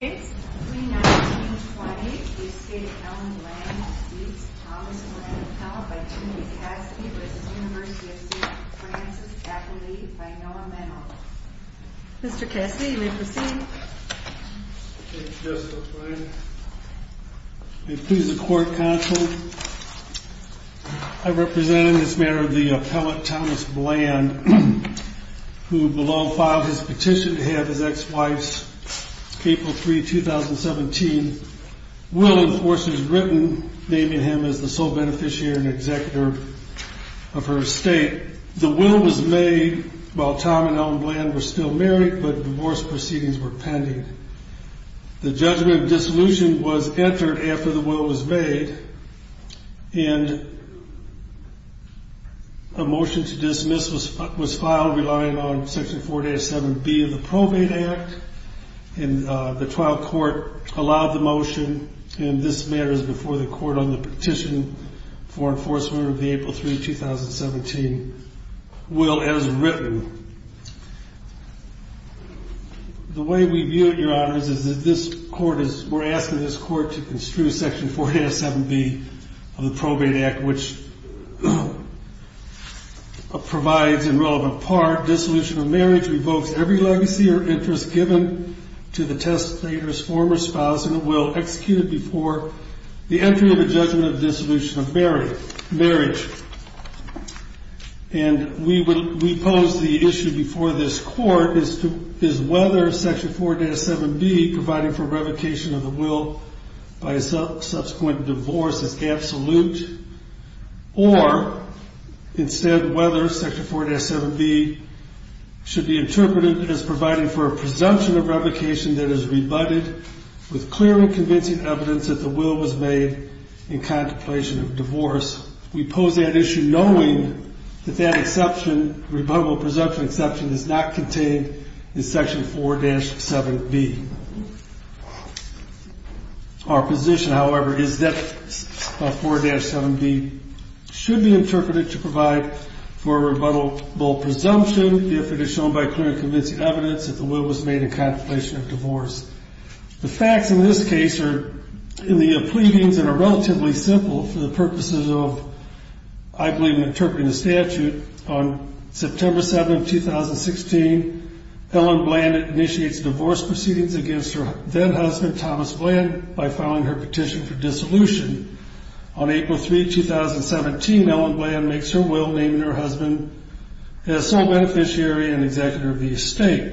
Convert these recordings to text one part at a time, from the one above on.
Case 319-20, Estate of Alan Bland v. Thomas Bland, Appellant by Timothy Cassidy v. University of St. Francis, Affiliated by Noah Menlo. Mr. Cassidy, you may proceed. Thank you, Justice O'Brien. May it please the Court, Counsel, I represent in this matter the appellant, Thomas Bland, who below filed his petition to have his ex-wife's April 3, 2017, will enforced as written, naming him as the sole beneficiary and executor of her estate. The will was made while Tom and Alan Bland were still married, but divorce proceedings were pending. The judgment of dissolution was entered after the will was made, and a motion to dismiss was filed relying on Section 487B of the Probate Act. And the trial court allowed the motion, and this matters before the court on the petition for enforcement of the April 3, 2017, will as written. The way we view it, Your Honors, is that this court is, we're asking this court to construe Section 487B of the Probate Act, which provides, in relevant part, dissolution of marriage revokes every legacy or interest given to the test player's former spouse in a will executed before the entry of a judgment of dissolution of marriage. And we pose the issue before this court as to whether Section 487B, providing for revocation of the will by subsequent divorce, is absolute, or, instead, whether Section 487B should be interpreted as providing for a presumption of revocation that is rebutted with clear and convincing evidence that the will was made in contemplation of divorce. We pose that issue knowing that that exception, rebuttable presumption exception, is not contained in Section 4-7B. Our position, however, is that 4-7B should be interpreted to provide for a rebuttable presumption if it is shown by clear and convincing evidence that the will was made in contemplation of divorce. The facts in this case are in the pleadings and are relatively simple for the purposes of, I believe, interpreting the statute. On September 7, 2016, Ellen Bland initiates divorce proceedings against her then-husband, Thomas Bland, by filing her petition for dissolution. On April 3, 2017, Ellen Bland makes her will, naming her husband as sole beneficiary and executor of the estate.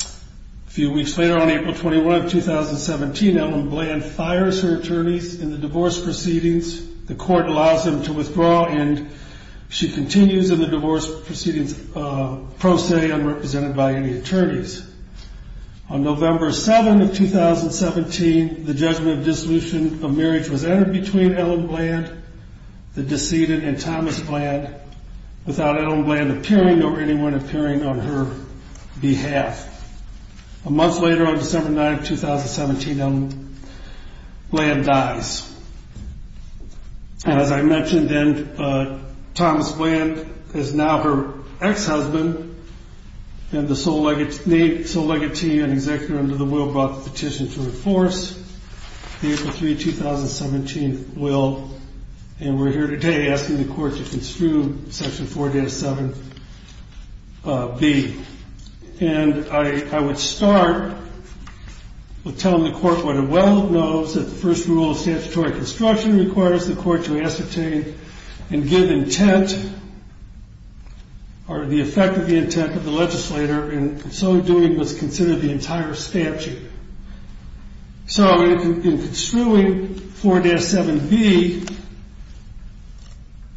A few weeks later, on April 21, 2017, Ellen Bland fires her attorneys in the divorce proceedings. The court allows them to withdraw, and she continues in the divorce proceedings pro se, unrepresented by any attorneys. On November 7, 2017, the judgment of dissolution of marriage was entered between Ellen Bland, the decedent, and Thomas Bland, without Ellen Bland appearing or anyone appearing on her behalf. A month later, on December 9, 2017, Ellen Bland dies. As I mentioned then, Thomas Bland is now her ex-husband, and the sole legatee and executor under the will brought the petition to the force. The April 3, 2017 will, and we're here today asking the court to construe Section 4-7B. And I would start with telling the court what it well knows, that the first rule of statutory construction requires the court to ascertain and give intent, or the effect of the intent of the legislator, and in so doing must consider the entire statute. So in construing 4-7B,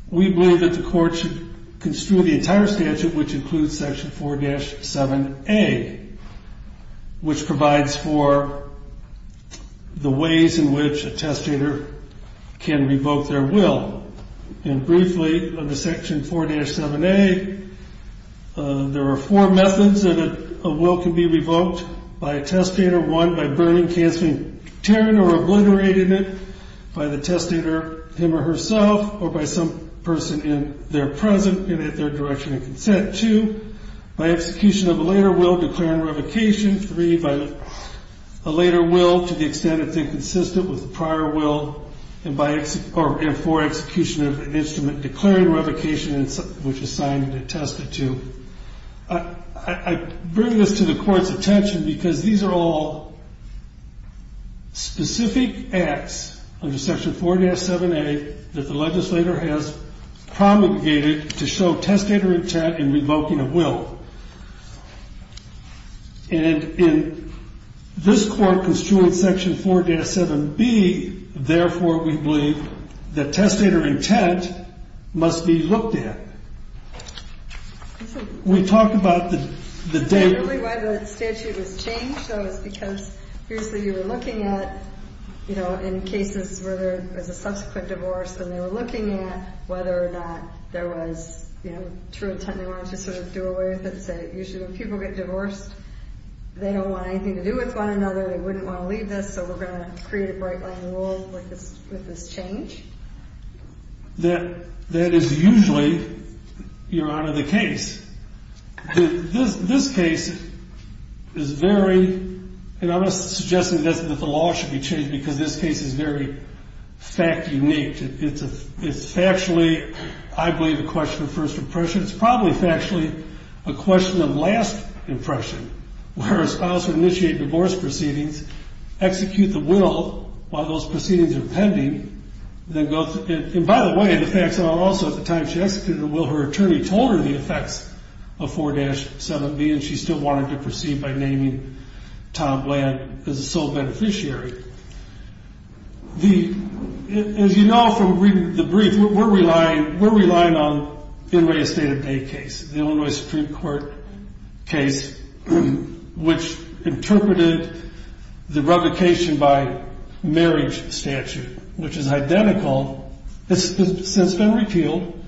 we believe that the court should construe the entire statute, which includes Section 4-7A, which provides for the ways in which a testator can revoke their will. And briefly, under Section 4-7A, there are four methods that a will can be revoked by a testator. One, by burning, cancelling, tearing, or obliterating it by the testator, him or herself, or by some person in their present and at their direction of consent. Two, by execution of a later will, declaring revocation. Three, by a later will, to the extent it's inconsistent with the prior will. And four, execution of an instrument declaring revocation, which is signed and attested to. I bring this to the court's attention because these are all specific acts under Section 4-7A that the legislator has promulgated to show testator intent in revoking a will. And in this court construing Section 4-7B, therefore, we believe that testator intent must be looked at. We talk about the day... Is that really why the statute was changed, though, is because usually you were looking at, you know, in cases where there was a subsequent divorce, then they were looking at whether or not there was, you know, true intent. They wanted to sort of do away with it and say, usually when people get divorced, they don't want anything to do with one another. They wouldn't want to leave this, so we're going to create a bright-line rule with this change. That is usually, Your Honor, the case. This case is very... And I'm not suggesting that the law should be changed because this case is very fact-unique. It's factually, I believe, a question of first impression. It's probably factually a question of last impression, where a spouse would initiate divorce proceedings, execute the will while those proceedings are pending, then go through... And by the way, the facts are also at the time she executed the will, her attorney told her the effects of 4-7B, and she still wanted to proceed by naming Tom Bland as a sole beneficiary. As you know from reading the brief, we're relying on Inouye's State of Day case, the Illinois Supreme Court case, which interpreted the revocation by marriage statute, which is identical, it's since been repealed,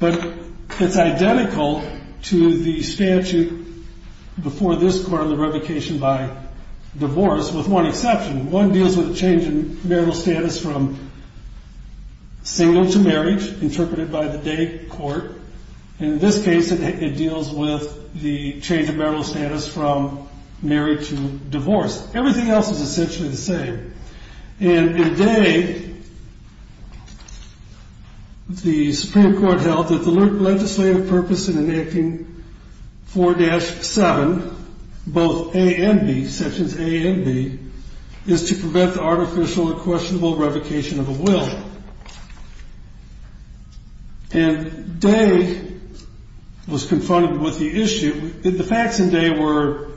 but it's identical to the statute before this court on the revocation by divorce, with one exception. One deals with a change in marital status from single to marriage, interpreted by the day court. In this case, it deals with the change in marital status from married to divorced. Everything else is essentially the same. And in day, the Supreme Court held that the legislative purpose in enacting 4-7, both A and B, sections A and B, is to prevent the artificial and questionable revocation of a will. And day was confronted with the issue. The facts in day were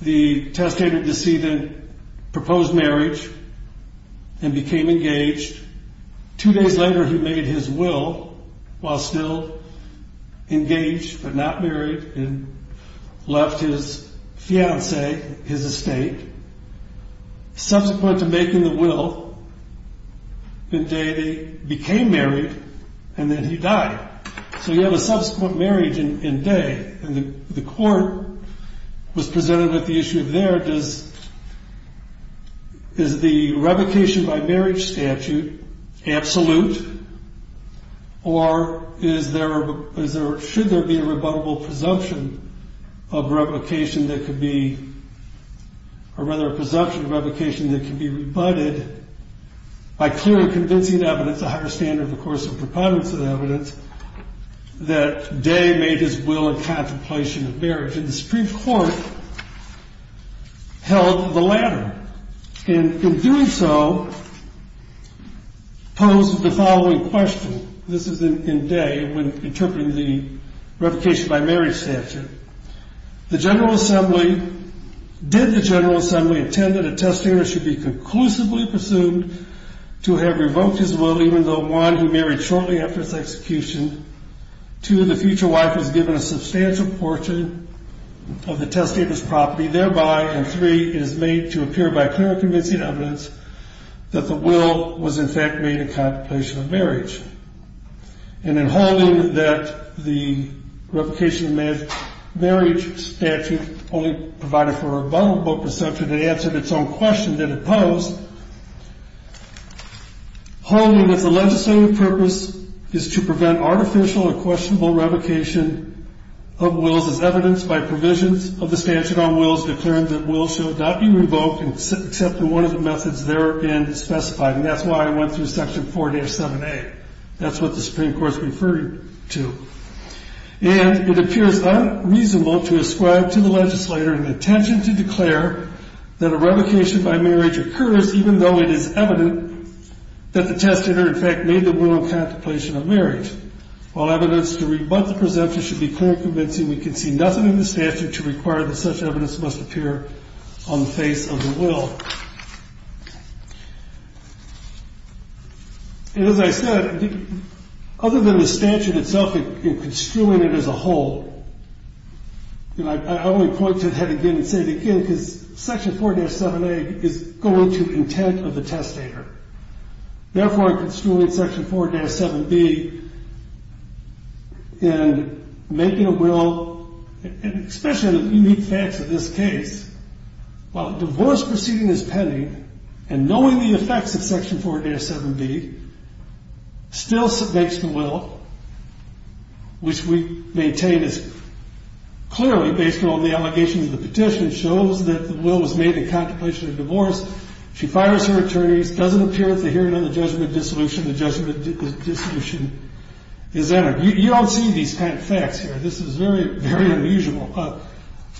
the testator-deceited proposed marriage and became engaged. Two days later, he made his will while still engaged but not married and left his fiancée, his estate. Subsequent to making the will, in day they became married and then he died. So you have a subsequent marriage in day. And the court was presented with the issue of there, is the revocation by marriage statute absolute, or should there be a rebuttable presumption of revocation that could be, or rather a presumption of revocation that could be rebutted by clearly convincing evidence, a higher standard, of course, of preponderance of evidence, that day made his will a contemplation of marriage. And the Supreme Court held the latter. And in doing so, posed the following question. This is in day when interpreting the revocation by marriage statute. The General Assembly, did the General Assembly intend that a testator should be conclusively presumed to have revoked his will even though, one, he married shortly after his execution, two, the future wife was given a substantial portion of the testator's property, thereby, and three, it is made to appear by clearly convincing evidence that the will was in fact made a contemplation of marriage. And in holding that the revocation of marriage statute only provided for a rebuttable presumption that answered its own question that it posed, holding that the legislative purpose is to prevent artificial or questionable revocation of wills evidence by provisions of the statute on wills declaring that wills shall not be revoked except in one of the methods therein specified. And that's why I went through section 4-7A. That's what the Supreme Court's referred to. And it appears unreasonable to ascribe to the legislator an intention to declare that a revocation by marriage occurs even though it is evident that the testator, in fact, made the will a contemplation of marriage. While evidence to rebut the presumption should be clearly convincing, we can see nothing in the statute to require that such evidence must appear on the face of the will. And as I said, other than the statute itself and construing it as a whole, I only point to it head again and say it again because section 4-7A is going to intent of the testator. Therefore, in construing section 4-7B, in making a will, especially in the unique facts of this case, while divorce proceeding is pending and knowing the effects of section 4-7B still makes the will, which we maintain is clearly based on the allegation of the petition, shows that the will was made in contemplation of divorce. She fires her attorneys, doesn't appear at the hearing on the judgment of dissolution. The judgment of dissolution is entered. You don't see these kind of facts here. This is very, very unusual,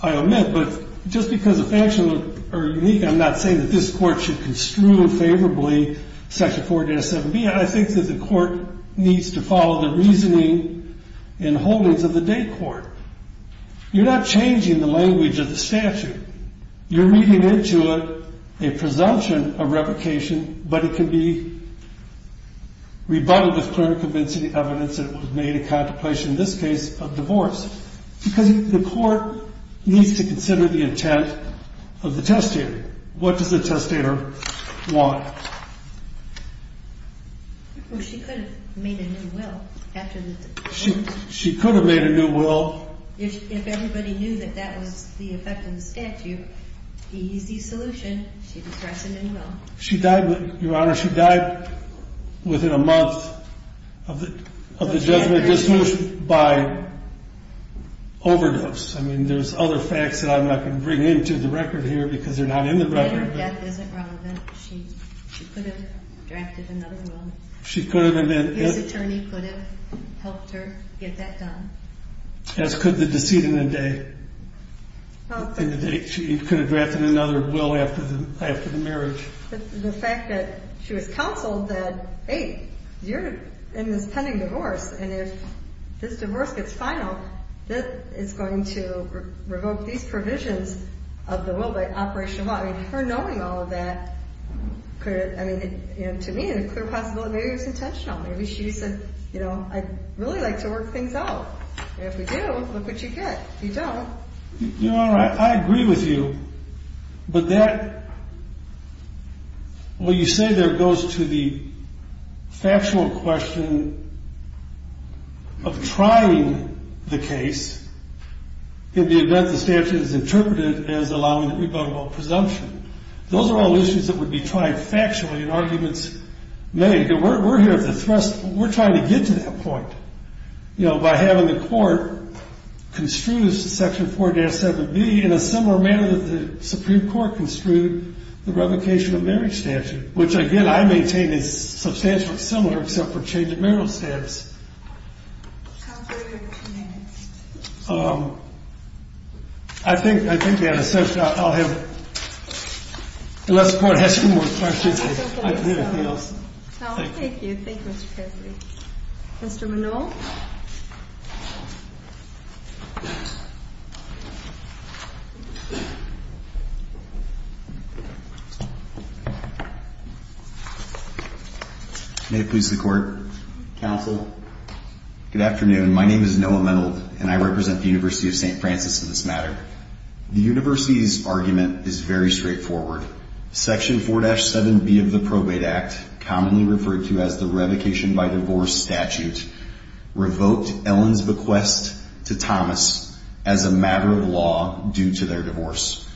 I'll admit. But just because the facts are unique, I'm not saying that this Court should construe favorably section 4-7B. I think that the Court needs to follow the reasoning and holdings of the day court. You're not changing the language of the statute. You're meeting into it a presumption of revocation, but it can be rebutted with clear and convincing evidence that it was made in contemplation, in this case, of divorce. Because the Court needs to consider the intent of the testator. What does the testator want? Well, she could have made a new will. She could have made a new will. If everybody knew that that was the effect of the statute, the easy solution, she could have drafted a new will. Your Honor, she died within a month of the judgment of dissolution by overdose. I mean, there's other facts that I'm not going to bring into the record here because they're not in the record. If her death isn't relevant, she could have drafted another will. His attorney could have helped her get that done. As could the deceit in the day. She could have drafted another will after the marriage. The fact that she was counseled that, hey, you're in this pending divorce, and if this divorce gets final, this is going to revoke these provisions of the will by Operation Law. I mean, her knowing all of that could have, I mean, to me, a clear possibility. Maybe it was intentional. Maybe she said, you know, I'd really like to work things out. And if we do, look what you get. You don't. Your Honor, I agree with you. But that, what you say there goes to the factual question of trying the case in the event the statute is interpreted as allowing the revocable presumption. Those are all issues that would be tried factually in arguments made. We're here at the thrust. We're trying to get to that point, you know, by having the court construe Section 4-7B in a similar manner that the Supreme Court construed the revocation of marriage statute, which, again, I maintain is substantially similar except for change of marital status. Counselor, you have two minutes. I think we have a session. I'll have, unless the court has a few more questions. I don't have a question. Thank you. Mr. Minow? May it please the Court. Counsel. Good afternoon. My name is Noah Minow, and I represent the University of St. Francis in this matter. The University's argument is very straightforward. Section 4-7B of the Probate Act, commonly referred to as the revocation by divorce statute, is a revocable presumption of marriage statute. Revoked Ellen's bequest to Thomas as a matter of law due to their divorce.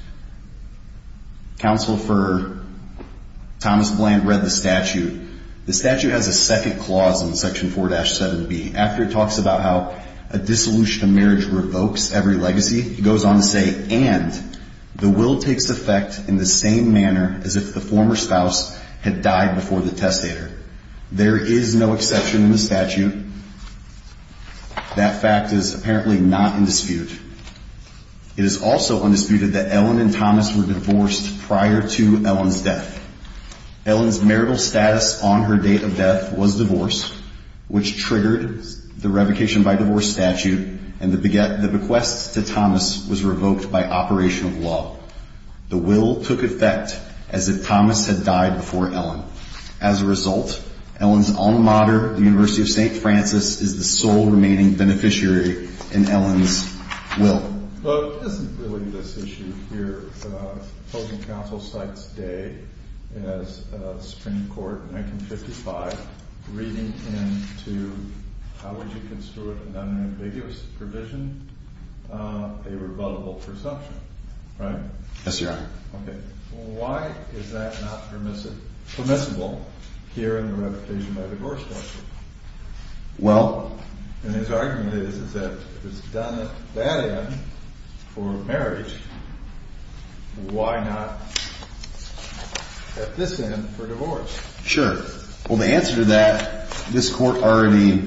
Counsel for Thomas Bland read the statute. The statute has a second clause in Section 4-7B. After it talks about how a dissolution of marriage revokes every legacy, it goes on to say, and the will takes effect in the same manner as if the former spouse had died before the testator. There is no exception in the statute. That fact is apparently not in dispute. It is also undisputed that Ellen and Thomas were divorced prior to Ellen's death. Ellen's marital status on her date of death was divorce, which triggered the revocation by divorce statute, and the bequest to Thomas was revoked by operation of law. The will took effect as if Thomas had died before Ellen. As a result, Ellen's alma mater, the University of St. Francis, is the sole remaining beneficiary in Ellen's will. Well, isn't really this issue here, the opposing counsel cites Day as Supreme Court in 1955, reading into how would you construe it under ambiguous provision, a revocable presumption, right? Yes, Your Honor. Okay. Why is that not permissible here in the revocation by divorce statute? Well... And his argument is that if it's done at that end for marriage, why not at this end for divorce? Sure. Well, the answer to that, this Court already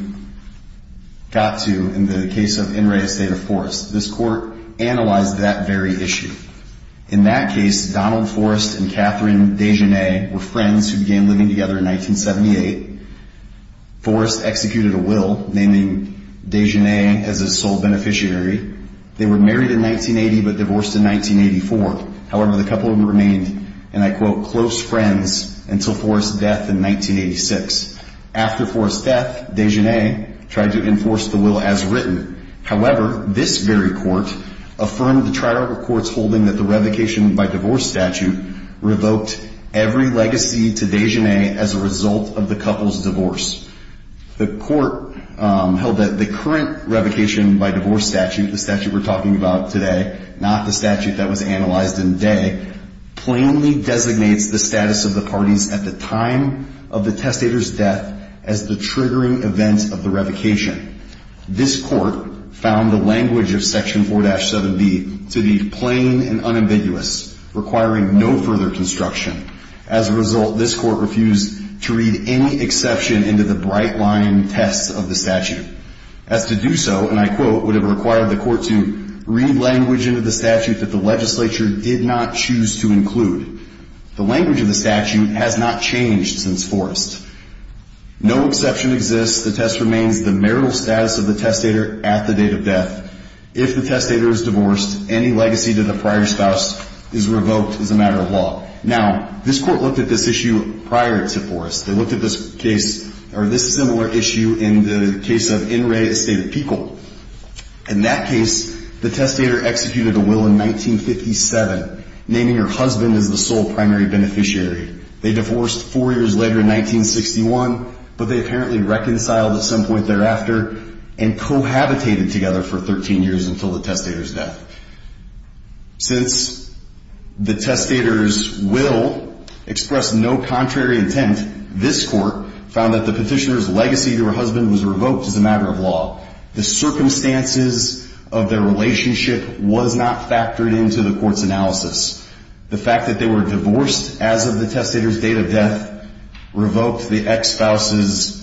got to in the case of In re Estata Forrest. This Court analyzed that very issue. In that case, Donald Forrest and Catherine Desjardins were friends who began living together in 1978. Forrest executed a will naming Desjardins as his sole beneficiary. They were married in 1980 but divorced in 1984. However, the couple remained, and I quote, close friends until Forrest's death in 1986. After Forrest's death, Desjardins tried to enforce the will as written. However, this very Court affirmed the trial records holding that the revocation by divorce statute revoked every legacy to Desjardins as a result of the couple's divorce. The Court held that the current revocation by divorce statute, the statute we're talking about today, not the statute that was analyzed in Dey, plainly designates the status of the parties at the time of the testator's death as the triggering event of the revocation. This Court found the language of Section 4-7B to be plain and unambiguous, requiring no further construction. As a result, this Court refused to read any exception into the bright-line tests of the statute. As to do so, and I quote, would have required the Court to read language into the statute that the legislature did not choose to include. The language of the statute has not changed since Forrest. No exception exists. The test remains the marital status of the testator at the date of death. If the testator is divorced, any legacy to the prior spouse is revoked as a matter of law. Now, this Court looked at this issue prior to Forrest. They looked at this case, or this similar issue, in the case of In re State of Peekle. In that case, the testator executed a will in 1957, naming her husband as the sole primary beneficiary. They divorced four years later in 1961, but they apparently reconciled at some point thereafter and cohabitated together for 13 years until the testator's death. Since the testator's will expressed no contrary intent, this Court found that the petitioner's legacy to her husband was revoked as a matter of law. The circumstances of their relationship was not factored into the Court's analysis. The fact that they were divorced as of the testator's date of death revoked the ex-spouse's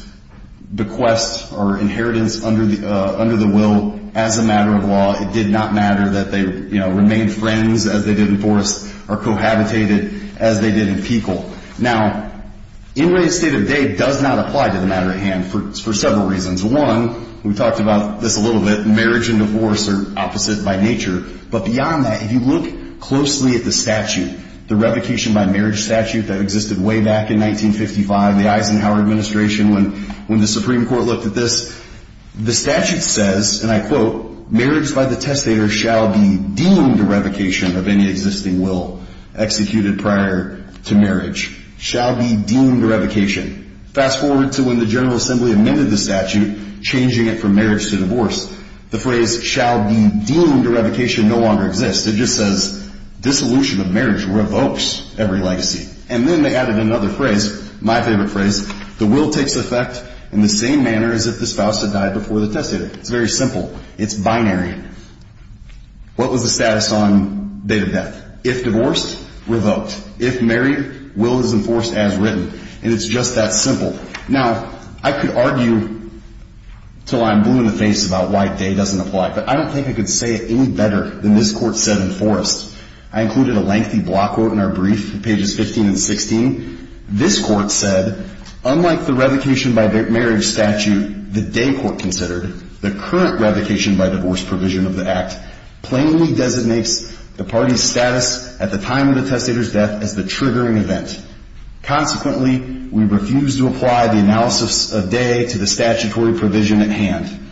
bequest or inheritance under the will as a matter of law. It did not matter that they remained friends as they did in Forrest or cohabitated as they did in Peekle. Now, In re State of Day does not apply to the matter at hand for several reasons. One, we talked about this a little bit, marriage and divorce are opposite by nature. But beyond that, if you look closely at the statute, the revocation by marriage statute that existed way back in 1955, the Eisenhower administration when the Supreme Court looked at this, the statute says, and I quote, marriage by the testator shall be deemed revocation of any existing will executed prior to marriage. Shall be deemed revocation. Fast forward to when the General Assembly amended the statute, changing it from marriage to divorce. The phrase shall be deemed revocation no longer exists. It just says, dissolution of marriage revokes every legacy. And then they added another phrase, my favorite phrase, the will takes effect in the same manner as if the spouse had died before the testator. It's very simple. It's binary. What was the status on date of death? If divorced, revoked. If married, will is enforced as written. And it's just that simple. Now, I could argue until I'm blue in the face about why day doesn't apply, but I don't think I could say it any better than this Court said enforced. I included a lengthy block quote in our brief, pages 15 and 16. This Court said, unlike the revocation by marriage statute the day court considered, the current revocation by divorce provision of the act plainly designates the party's status at the time of the testator's death as the triggering event. Consequently, we refuse to apply the analysis of day to the statutory provision at hand.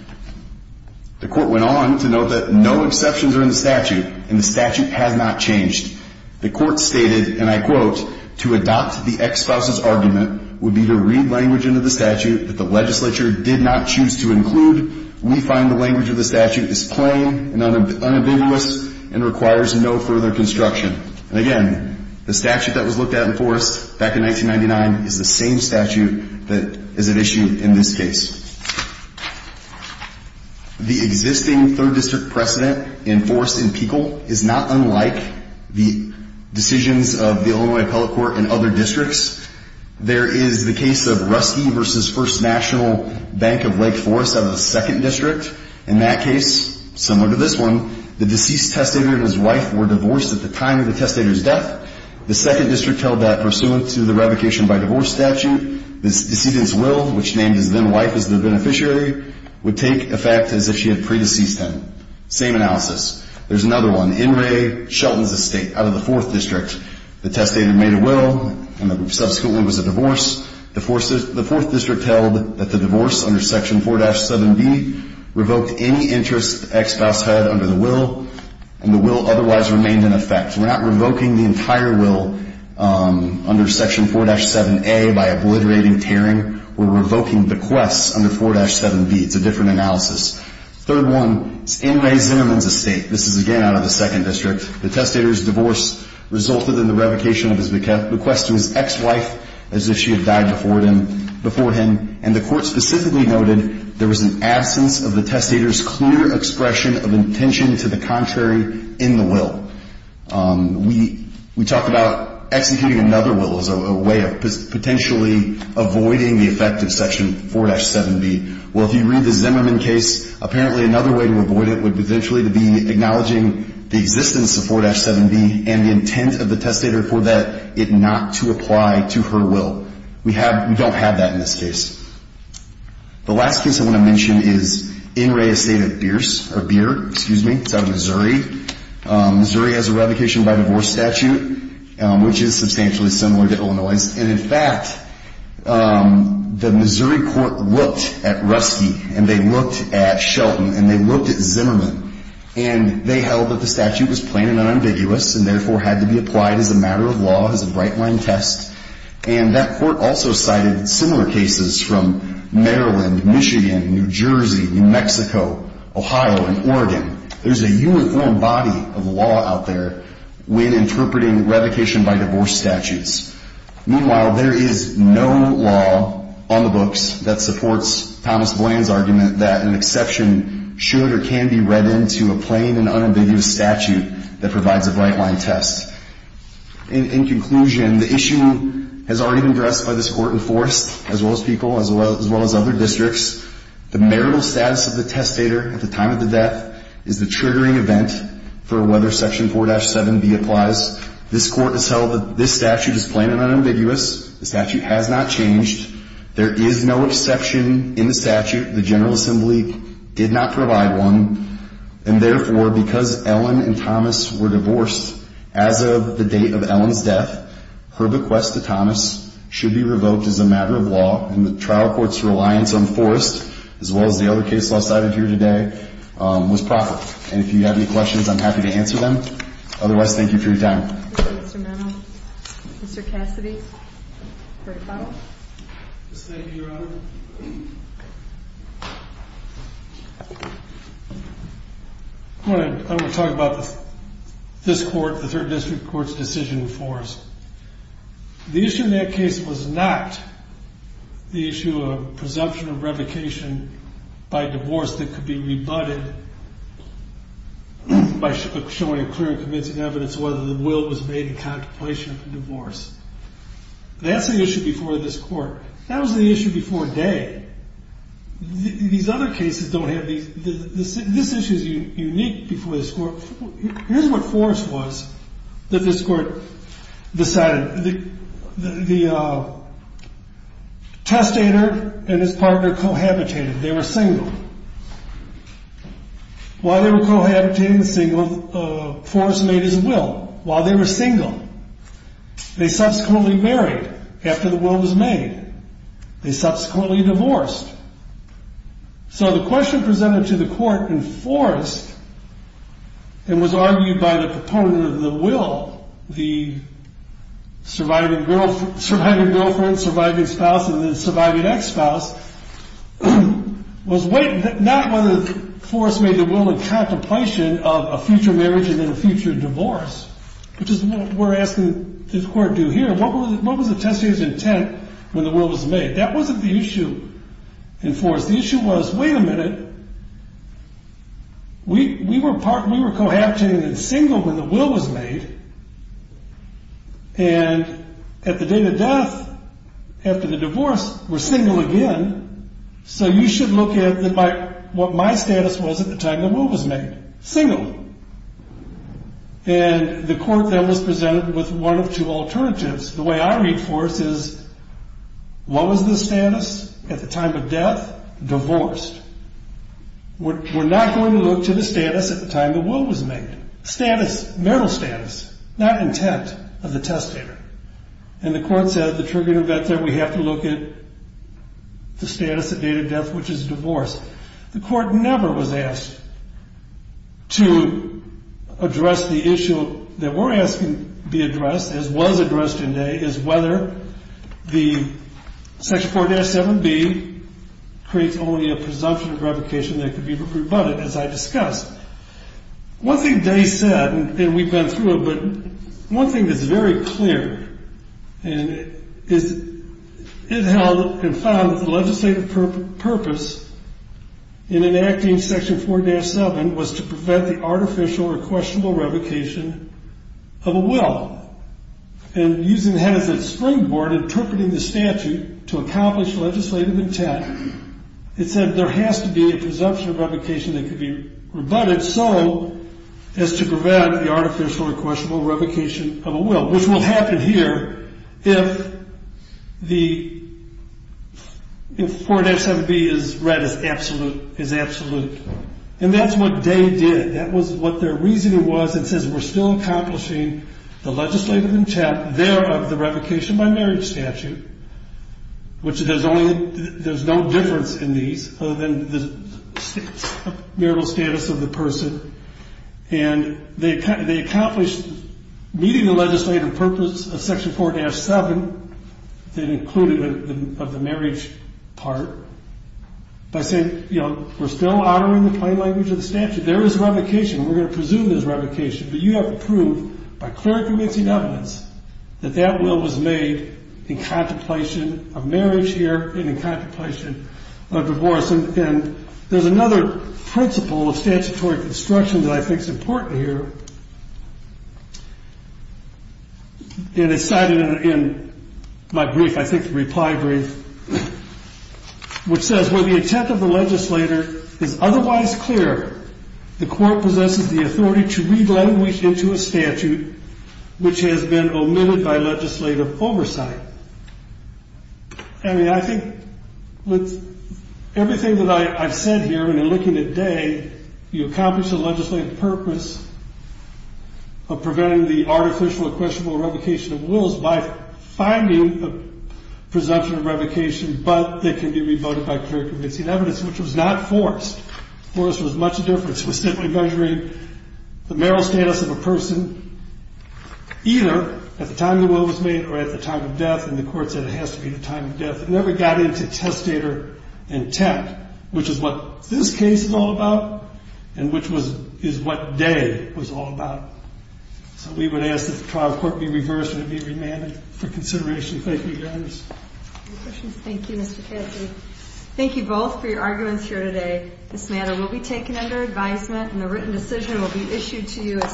The Court went on to note that no exceptions are in the statute, and the statute has not changed. The Court stated, and I quote, to adopt the ex-spouse's argument would be to read language into the statute that the legislature did not choose to include. We find the language of the statute is plain and unambiguous and requires no further construction. And again, the statute that was looked at in Forrest back in 1999 is the same statute that is at issue in this case. The existing third district precedent enforced in Peekle is not unlike the decisions of the Illinois Appellate Court and other districts. There is the case of Rusty v. First National Bank of Lake Forrest out of the second district. In that case, similar to this one, the deceased testator and his wife were divorced at the time of the testator's death. The second district held that pursuant to the revocation by divorce statute, the decedent's will, which named his then-wife as the beneficiary, would take effect as if she had pre-deceased him. Same analysis. There's another one, In Re, Shelton's Estate, out of the fourth district. The testator made a will, and there subsequently was a divorce. The fourth district held that the divorce under Section 4-7B revoked any interest the ex-spouse had under the will, and the will otherwise remained in effect. We're not revoking the entire will under Section 4-7A by obliterating, tearing. We're revoking bequests under 4-7B. It's a different analysis. Third one, In Re, Zinnerman's Estate. This is, again, out of the second district. The testator's divorce resulted in the revocation of his bequest to his ex-wife as if she had died before him, and the Court specifically noted there was an absence of the testator's clear expression of intention to the contrary in the will. We talk about executing another will as a way of potentially avoiding the effect of Section 4-7B. Well, if you read the Zinnerman case, apparently another way to avoid it would potentially be acknowledging the existence of 4-7B and the intent of the testator for that it not to apply to her will. We don't have that in this case. The last case I want to mention is In Re, Estate of Bierce, or Bier, excuse me. It's out of Missouri. Missouri has a revocation by divorce statute, which is substantially similar to Illinois'. And, in fact, the Missouri court looked at Ruski, and they looked at Shelton, and they looked at Zinnerman, and they held that the statute was plain and unambiguous and, therefore, had to be applied as a matter of law, as a right-line test. And that court also cited similar cases from Maryland, Michigan, New Jersey, New Mexico, Ohio, and Oregon. There's a uniform body of law out there when interpreting revocation by divorce statutes. Meanwhile, there is no law on the books that supports Thomas Bland's argument that an exception should or can be read into a plain and unambiguous statute that provides a right-line test. In conclusion, the issue has already been addressed by this Court in Forrest, as well as people, as well as other districts. The marital status of the testator at the time of the death is the triggering event for whether Section 4-7B applies. This Court has held that this statute is plain and unambiguous. The statute has not changed. There is no exception in the statute. The General Assembly did not provide one. And, therefore, because Ellen and Thomas were divorced as of the date of Ellen's death, her bequest to Thomas should be revoked as a matter of law. And the trial court's reliance on Forrest, as well as the other cases I cited here today, was proper. And if you have any questions, I'm happy to answer them. Otherwise, thank you for your time. Thank you, Mr. Menno. Mr. Cassidy for a follow-up. Thank you, Your Honor. I want to talk about this Court, the Third District Court's decision in Forrest. The issue in that case was not the issue of presumption of revocation by divorce that could be rebutted by showing a clear and convincing evidence of whether the will was made in contemplation of the divorce. That's the issue before this Court. That was the issue before Day. These other cases don't have these. This issue is unique before this Court. Here's what Forrest was that this Court decided. The testator and his partner cohabitated. They were single. While they were cohabiting, Forrest made his will. While they were single, they subsequently married after the will was made. They subsequently divorced. So the question presented to the Court in Forrest and was argued by the proponent of the will, the surviving girlfriend, surviving spouse, and the surviving ex-spouse, was not whether Forrest made the will in contemplation of a future marriage and then a future divorce, which is what we're asking this Court to do here. What was the testator's intent when the will was made? That wasn't the issue in Forrest. The issue was, wait a minute. We were cohabiting and single when the will was made. And at the date of death, after the divorce, we're single again. So you should look at what my status was at the time the will was made. Single. And the Court then was presented with one of two alternatives. The way I read Forrest is, what was the status at the time of death? Divorced. We're not going to look to the status at the time the will was made. Status, marital status, not intent of the testator. And the Court said at the tribunal that we have to look at the status at date of death, which is divorce. The Court never was asked to address the issue that we're asking be addressed, as was addressed in Day, is whether the Section 4-7B creates only a presumption of revocation that could be rebutted, as I discussed. One thing Day said, and we've been through it, but one thing that's very clear, and it held and found that the legislative purpose in enacting Section 4-7 was to prevent the artificial or questionable revocation of a will. And using Hennessey's springboard, interpreting the statute to accomplish legislative intent, it said there has to be a presumption of revocation that could be rebutted so as to prevent the artificial or questionable revocation of a will, which will happen here if 4-7B is read as absolute. And that's what Day did. That was what their reasoning was. It says we're still accomplishing the legislative intent there of the revocation by marriage statute, which there's no difference in these other than the marital status of the person. And they accomplished meeting the legislative purpose of Section 4-7, that included the marriage part, by saying, you know, we're still honoring the plain language of the statute. There is revocation. We're going to presume there's revocation. But you have to prove by clear and convincing evidence that that will was made in contemplation of marriage here and in contemplation of divorce. And there's another principle of statutory construction that I think is important here. And it's cited in my brief, I think the reply brief, which says when the intent of the legislator is otherwise clear, the court possesses the authority to read language into a statute which has been omitted by legislative oversight. I mean, I think with everything that I've said here and in looking at Day, you accomplish the legislative purpose of preventing the artificial or questionable revocation of wills by finding a presumption of revocation, but they can be revoted by clear and convincing evidence, which was not Forrest. Forrest was much different. It was simply measuring the marital status of a person, either at the time the will was made or at the time of death. And the court said it has to be the time of death. It never got into testator intent, which is what this case is all about and which is what Day was all about. So we would ask that the trial court be reversed and be remanded for consideration. Thank you, Your Honor. Any questions? Thank you, Mr. Caffey. Thank you both for your arguments here today. This matter will be taken under advisement and the written decision will be issued to you as soon as possible.